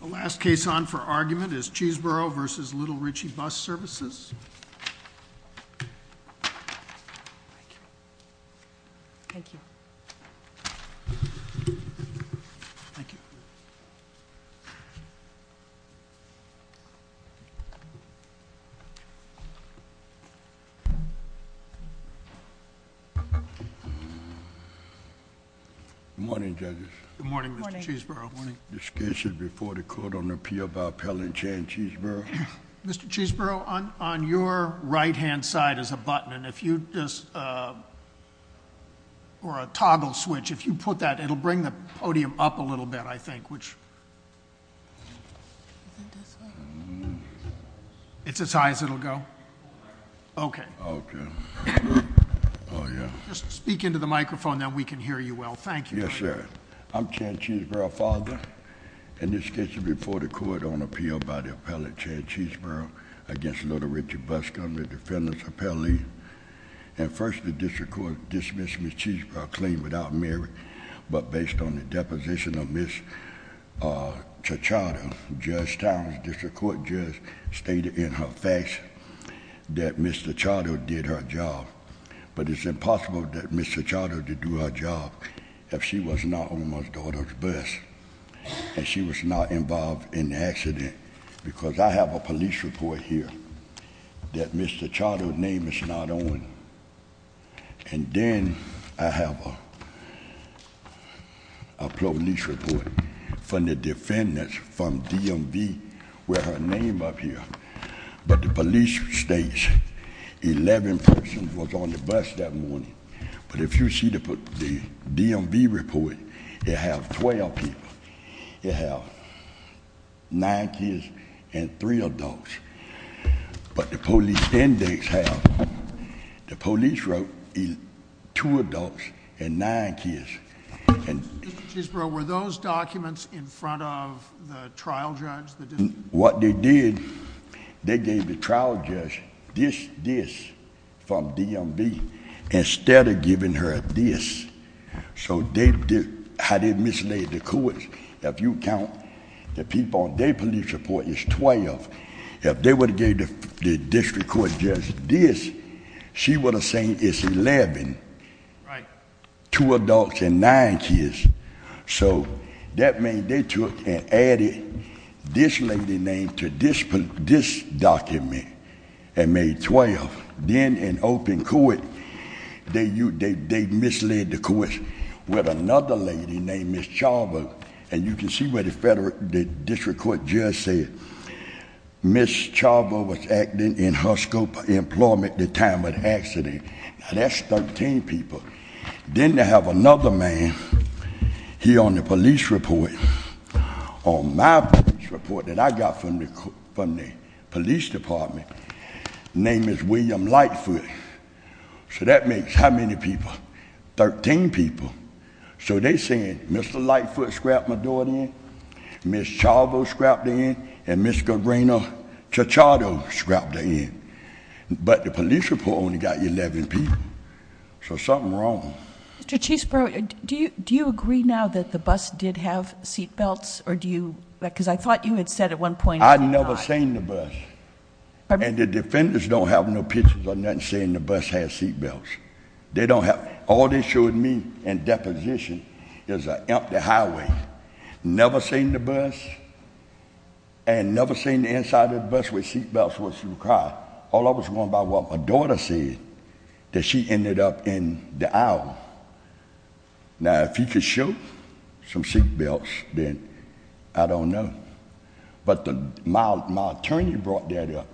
The last case on for argument is Cheesborough v. Little Ritchie Bus Services. Mr. Cheesborough v. Little Ritchie Bus Services Good morning judges. Good morning Mr. Cheesborough. Discussion before the court on the appeal by Appellant Chan Cheesborough. Mr. Cheesborough on your right hand side is a button and if you just or a toggle switch if you put that it'll bring the podium up a little bit I think which. It's as high as it'll go. Okay. Okay. Oh yeah. Just speak into the microphone then we can hear you well. Thank you. Yes sir. I'm Chan Cheesborough father. In this case before the court on appeal by the Appellant Chan Cheesborough against Little Ritchie Bus Company Defendants Appellee and first the district court dismissed Ms. Cheesborough claimed without merit but based on the deposition of Ms. Tachata, Judge Towns District Court Judge stated in her fax that Ms. Tachata did her job but it's impossible that Ms. Tachata did do her job if she was not on my daughter's bus and she was not involved in the accident because I have a police report here that Mr. Tachata name is not on and then I have a police report from the defendants from DMV with her name up here but the police states 11 persons was on the bus that morning but if you see the DMV report it have 12 people. It have nine kids and three adults but the police index have the police wrote two adults and nine kids. Mr. Cheesborough were those documents in front of the trial judge? What they did, they gave the trial judge this, this from DMV instead of giving her this. So how they mislead the courts, if you count the people on their police report it's 12. If they would have gave the district court judge this, she would have said it's 11, two this lady name to this document and made 12, then in open court they mislead the courts with another lady named Ms. Chawba and you can see where the district court judge said Ms. Chawba was acting in her scope of employment at the time of the accident, now that's 13 people. Then they have another man here on the police report, on my police report that I got from the police department, name is William Lightfoot, so that makes how many people, 13 people. So they saying Mr. Lightfoot scrapped my door in, Ms. Chawba scrapped in and Ms. Cabrera Chichardo scrapped in, but the police report only got 11 people, so something wrong. Mr. Chiefsborough, do you agree now that the bus did have seatbelts or do you, because I thought you had said at one point. I never seen the bus and the defenders don't have no pictures or nothing saying the bus has seatbelts. They don't have, all they showed me in deposition is an empty highway, never seen the bus and never seen the inside of the bus with seatbelts where she would cry. All I was going by was what my daughter said, that she ended up in the aisle. Now if you could show some seatbelts, then I don't know. But my attorney brought that up.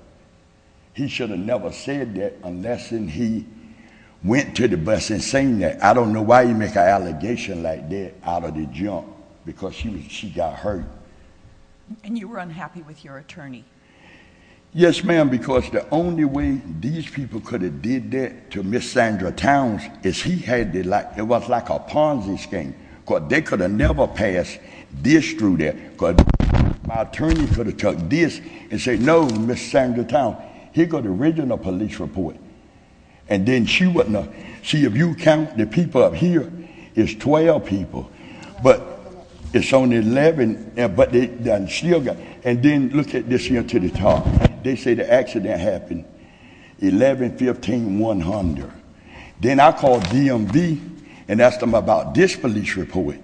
He should have never said that unless he went to the bus and seen that. I don't know why you make an allegation like that out of the jump, because she got hurt. And you were unhappy with your attorney. Yes, ma'am, because the only way these people could have did that to Ms. Sandra Towns is he had the, it was like a Ponzi scheme, because they could have never passed this through there. My attorney could have took this and said, no, Ms. Sandra Towns, here go the original police report. And then she wouldn't have, see if you count the people up here, it's 12 people, but it's only 11, but they still got, and then look at this here to the top. They say the accident happened 11-15-100. Then I called DMV and asked them about this police report.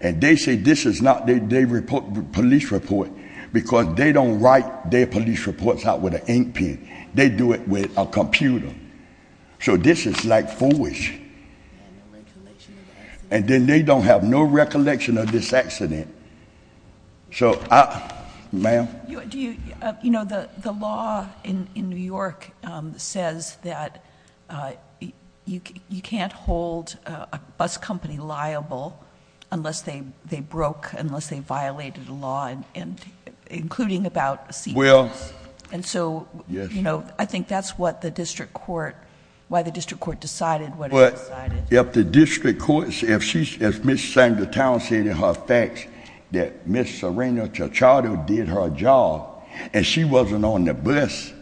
And they say this is not their police report, because they don't write their police reports out with an ink pen. They do it with a computer. So this is like foolish. And then they don't have no recollection of this accident. So I, ma'am? You know, the law in New York says that you can't hold a bus company liable unless they broke, unless they violated the law, including about a seat pass. And so, you know, I think that's what the district court, why the district court decided what it decided. But if the district court, if Ms. Sandra Towns said in her fax that Ms. Serena Tachado did her job and she wasn't on the bus,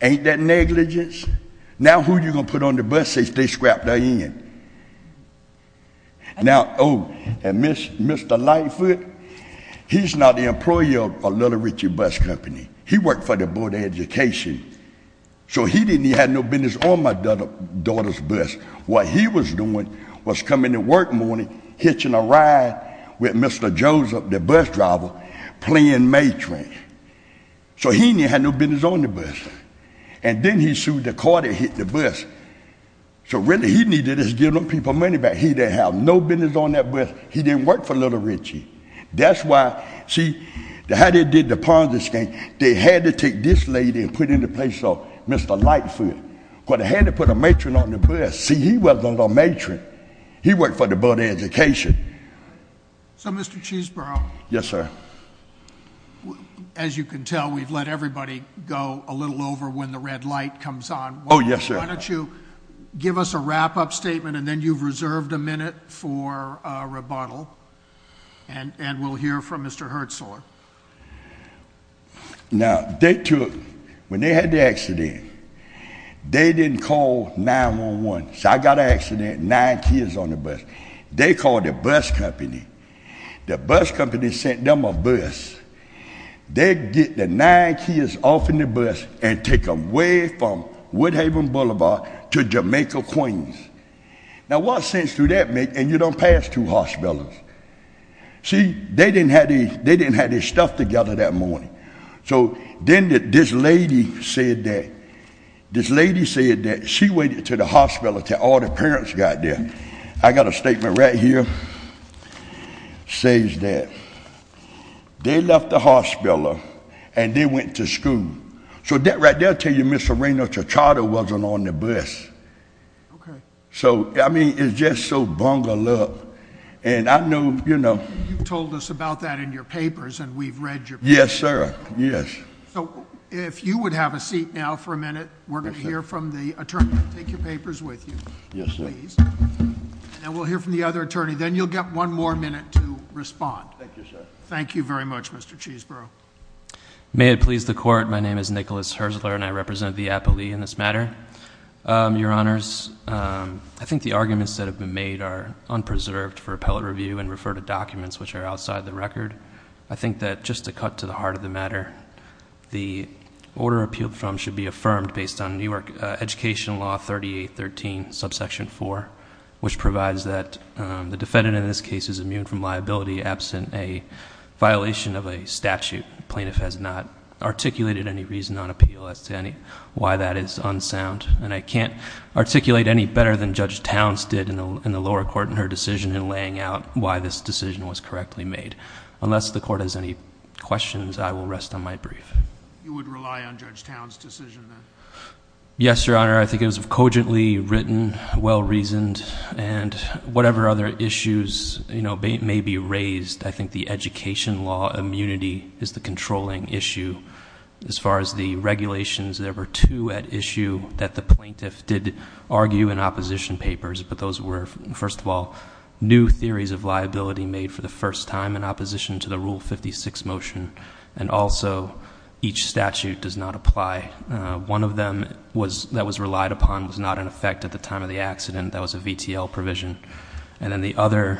ain't that negligence? Now who you going to put on the bus if they scrapped her in? Now, oh, and Mr. Lightfoot, he's not the employer of Little Richie Bus Company. He worked for the Board of Education. So he didn't have no business on my daughter's bus. What he was doing was coming to work in the morning, hitching a ride with Mr. Joseph, the bus driver, playing matron. So he didn't have no business on the bus. And then he sued the court that hit the bus. So really, he needed to just give them people money back. He didn't have no business on that bus. He didn't work for Little Richie. That's why, see, how they did the Ponzi scheme, they had to take this lady and put her in the place of Mr. Lightfoot, but they had to put a matron on the bus. See, he wasn't a matron. He worked for the Board of Education. So Mr. Cheesborough, as you can tell, we've let everybody go a little over when the red light comes on. Oh, yes sir. So why don't you give us a wrap-up statement, and then you've reserved a minute for a rebuttal. And we'll hear from Mr. Hertzler. Now, they took, when they had the accident, they didn't call 911. So I got an accident, nine kids on the bus. They called the bus company. The bus company sent them a bus. They get the nine kids off in the bus and take them away from Woodhaven Boulevard to Jamaica, Queens. Now what sense do that make, and you don't pass two hospitals? See, they didn't have their stuff together that morning. So then this lady said that, this lady said that she went to the hospital until all the parents got there. And I got a statement right here that says that they left the hospital and they went to school. So that right there tells you Mr. Raynor Chichardo wasn't on the bus. So I mean, it's just so bungled up. And I know, you know. You've told us about that in your papers, and we've read your papers. Yes, sir. Yes. So if you would have a seat now for a minute, we're going to hear from the attorney. Take your papers with you. Yes, sir. Please. And we'll hear from the other attorney. Then you'll get one more minute to respond. Thank you, sir. Thank you very much, Mr. Cheesborough. May it please the Court, my name is Nicholas Herzler, and I represent the appellee in this matter. Your Honors, I think the arguments that have been made are unpreserved for appellate review and refer to documents which are outside the record. I think that just to cut to the heart of the matter, the order appealed from should be Law 3813, subsection 4, which provides that the defendant in this case is immune from liability absent a violation of a statute. The plaintiff has not articulated any reason on appeal as to why that is unsound. And I can't articulate any better than Judge Towns did in the lower court in her decision in laying out why this decision was correctly made. Unless the Court has any questions, I will rest on my brief. You would rely on Judge Towns' decision then? Yes, Your Honor. I think it was cogently written, well-reasoned, and whatever other issues may be raised, I think the education law immunity is the controlling issue. As far as the regulations, there were two at issue that the plaintiff did argue in opposition papers, but those were, first of all, new theories of liability made for the first time in opposition to the Rule 56 motion. And also, each statute does not apply. One of them that was relied upon was not in effect at the time of the accident, that was a VTL provision. And then the other,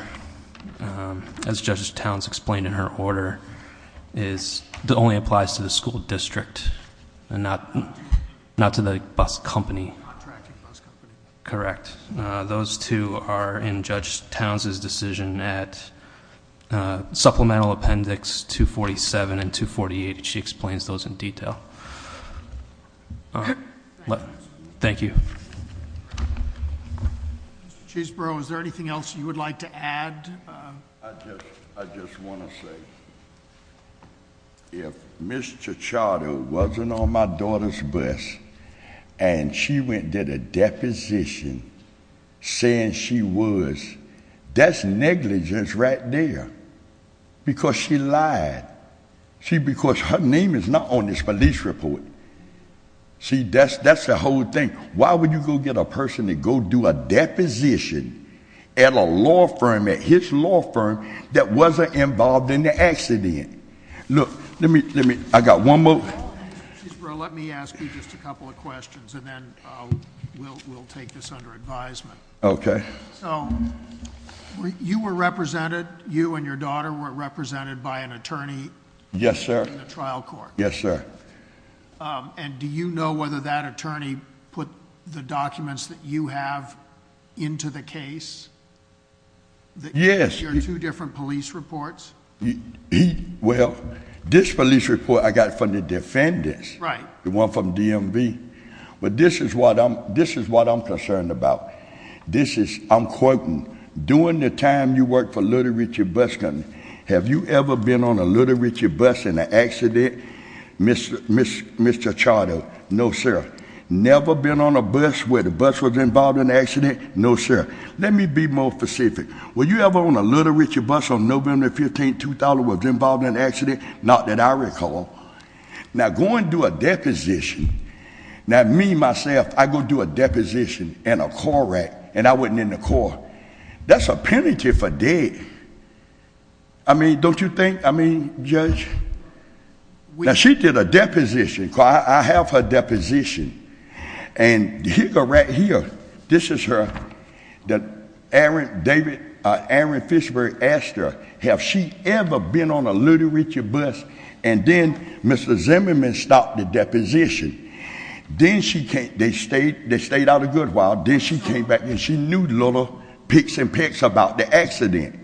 as Judge Towns explained in her order, is that it only applies to the school district, and not to the bus company. Contracting bus company. Correct. Those two are in Judge Towns' decision at Supplemental Appendix 247 and 248, and she explains those in detail. All right. Thank you. Mr. Chesebrough, is there anything else you would like to add? I just want to say, if Ms. Chichardo wasn't on my daughter's bus, and she went and did a deposition saying she was, that's negligence right there, because she lied. See, because her name is not on this police report. See, that's the whole thing. Why would you go get a person to go do a deposition at a law firm, at his law firm, that wasn't involved in the accident? Look, let me, I got one more. Mr. Chesebrough, let me ask you just a couple of questions, and then we'll take this under advisement. Okay. So, you were represented, you and your daughter were represented by an attorney. Yes, sir. In the trial court. Yes, sir. And do you know whether that attorney put the documents that you have into the case? Yes. Your two different police reports? Well, this police report I got from the defendants. Right. The one from DMV. But this is what I'm concerned about. This is, I'm quoting, during the time you worked for Little Richard Bus Company, have you ever been on a Little Richard bus in an accident, Mr. Charter? No, sir. Never been on a bus where the bus was involved in an accident? No, sir. Let me be more specific. Were you ever on a Little Richard bus on November 15th, 2000, was involved in an accident? Not that I recall. Now, going to a deposition. Now, me, myself, I go do a deposition in a car wreck, and I wasn't in the car. That's a penalty for dead. I mean, don't you think, I mean, Judge? Now, she did a deposition, because I have her deposition. And here, go right here. This is her, that Aaron Fishbury asked her, have she ever been on a Little Richard bus? And then, Mr. Zimmerman stopped the deposition. Then she came, they stayed out a good while, then she came back and she knew little picks and picks about the accident.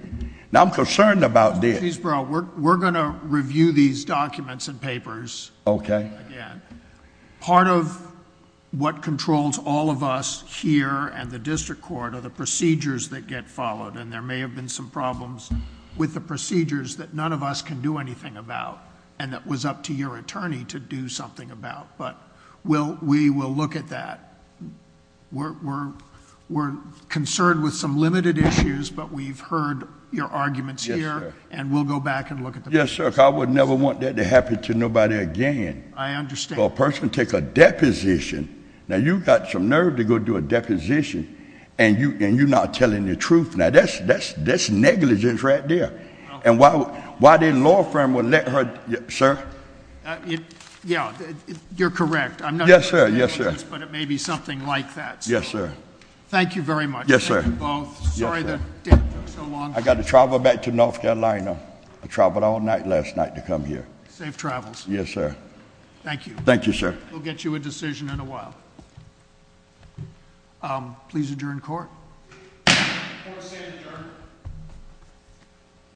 Now, I'm concerned about that. Chief Burrell, we're going to review these documents and papers. Okay. Again, part of what controls all of us here and the district court are the procedures that get followed. And there may have been some problems with the procedures that none of us can do anything about. And it was up to your attorney to do something about. But we will look at that. We're concerned with some limited issues, but we've heard your arguments here. Yes, sir. And we'll go back and look at the- Yes, sir, because I would never want that to happen to nobody again. I understand. For a person to take a deposition, now you've got some nerve to go do a deposition, and you're not telling the truth, now that's negligence right there. And why didn't law firm would let her, sir? Yeah, you're correct. I'm not- Yes, sir. Yes, sir. But it may be something like that. Yes, sir. Thank you very much. Yes, sir. Sorry that it took so long. I got to travel back to North Carolina. I traveled all night last night to come here. Safe travels. Yes, sir. Thank you. Thank you, sir. We'll get you a decision in a while. Please adjourn court. Court is adjourned.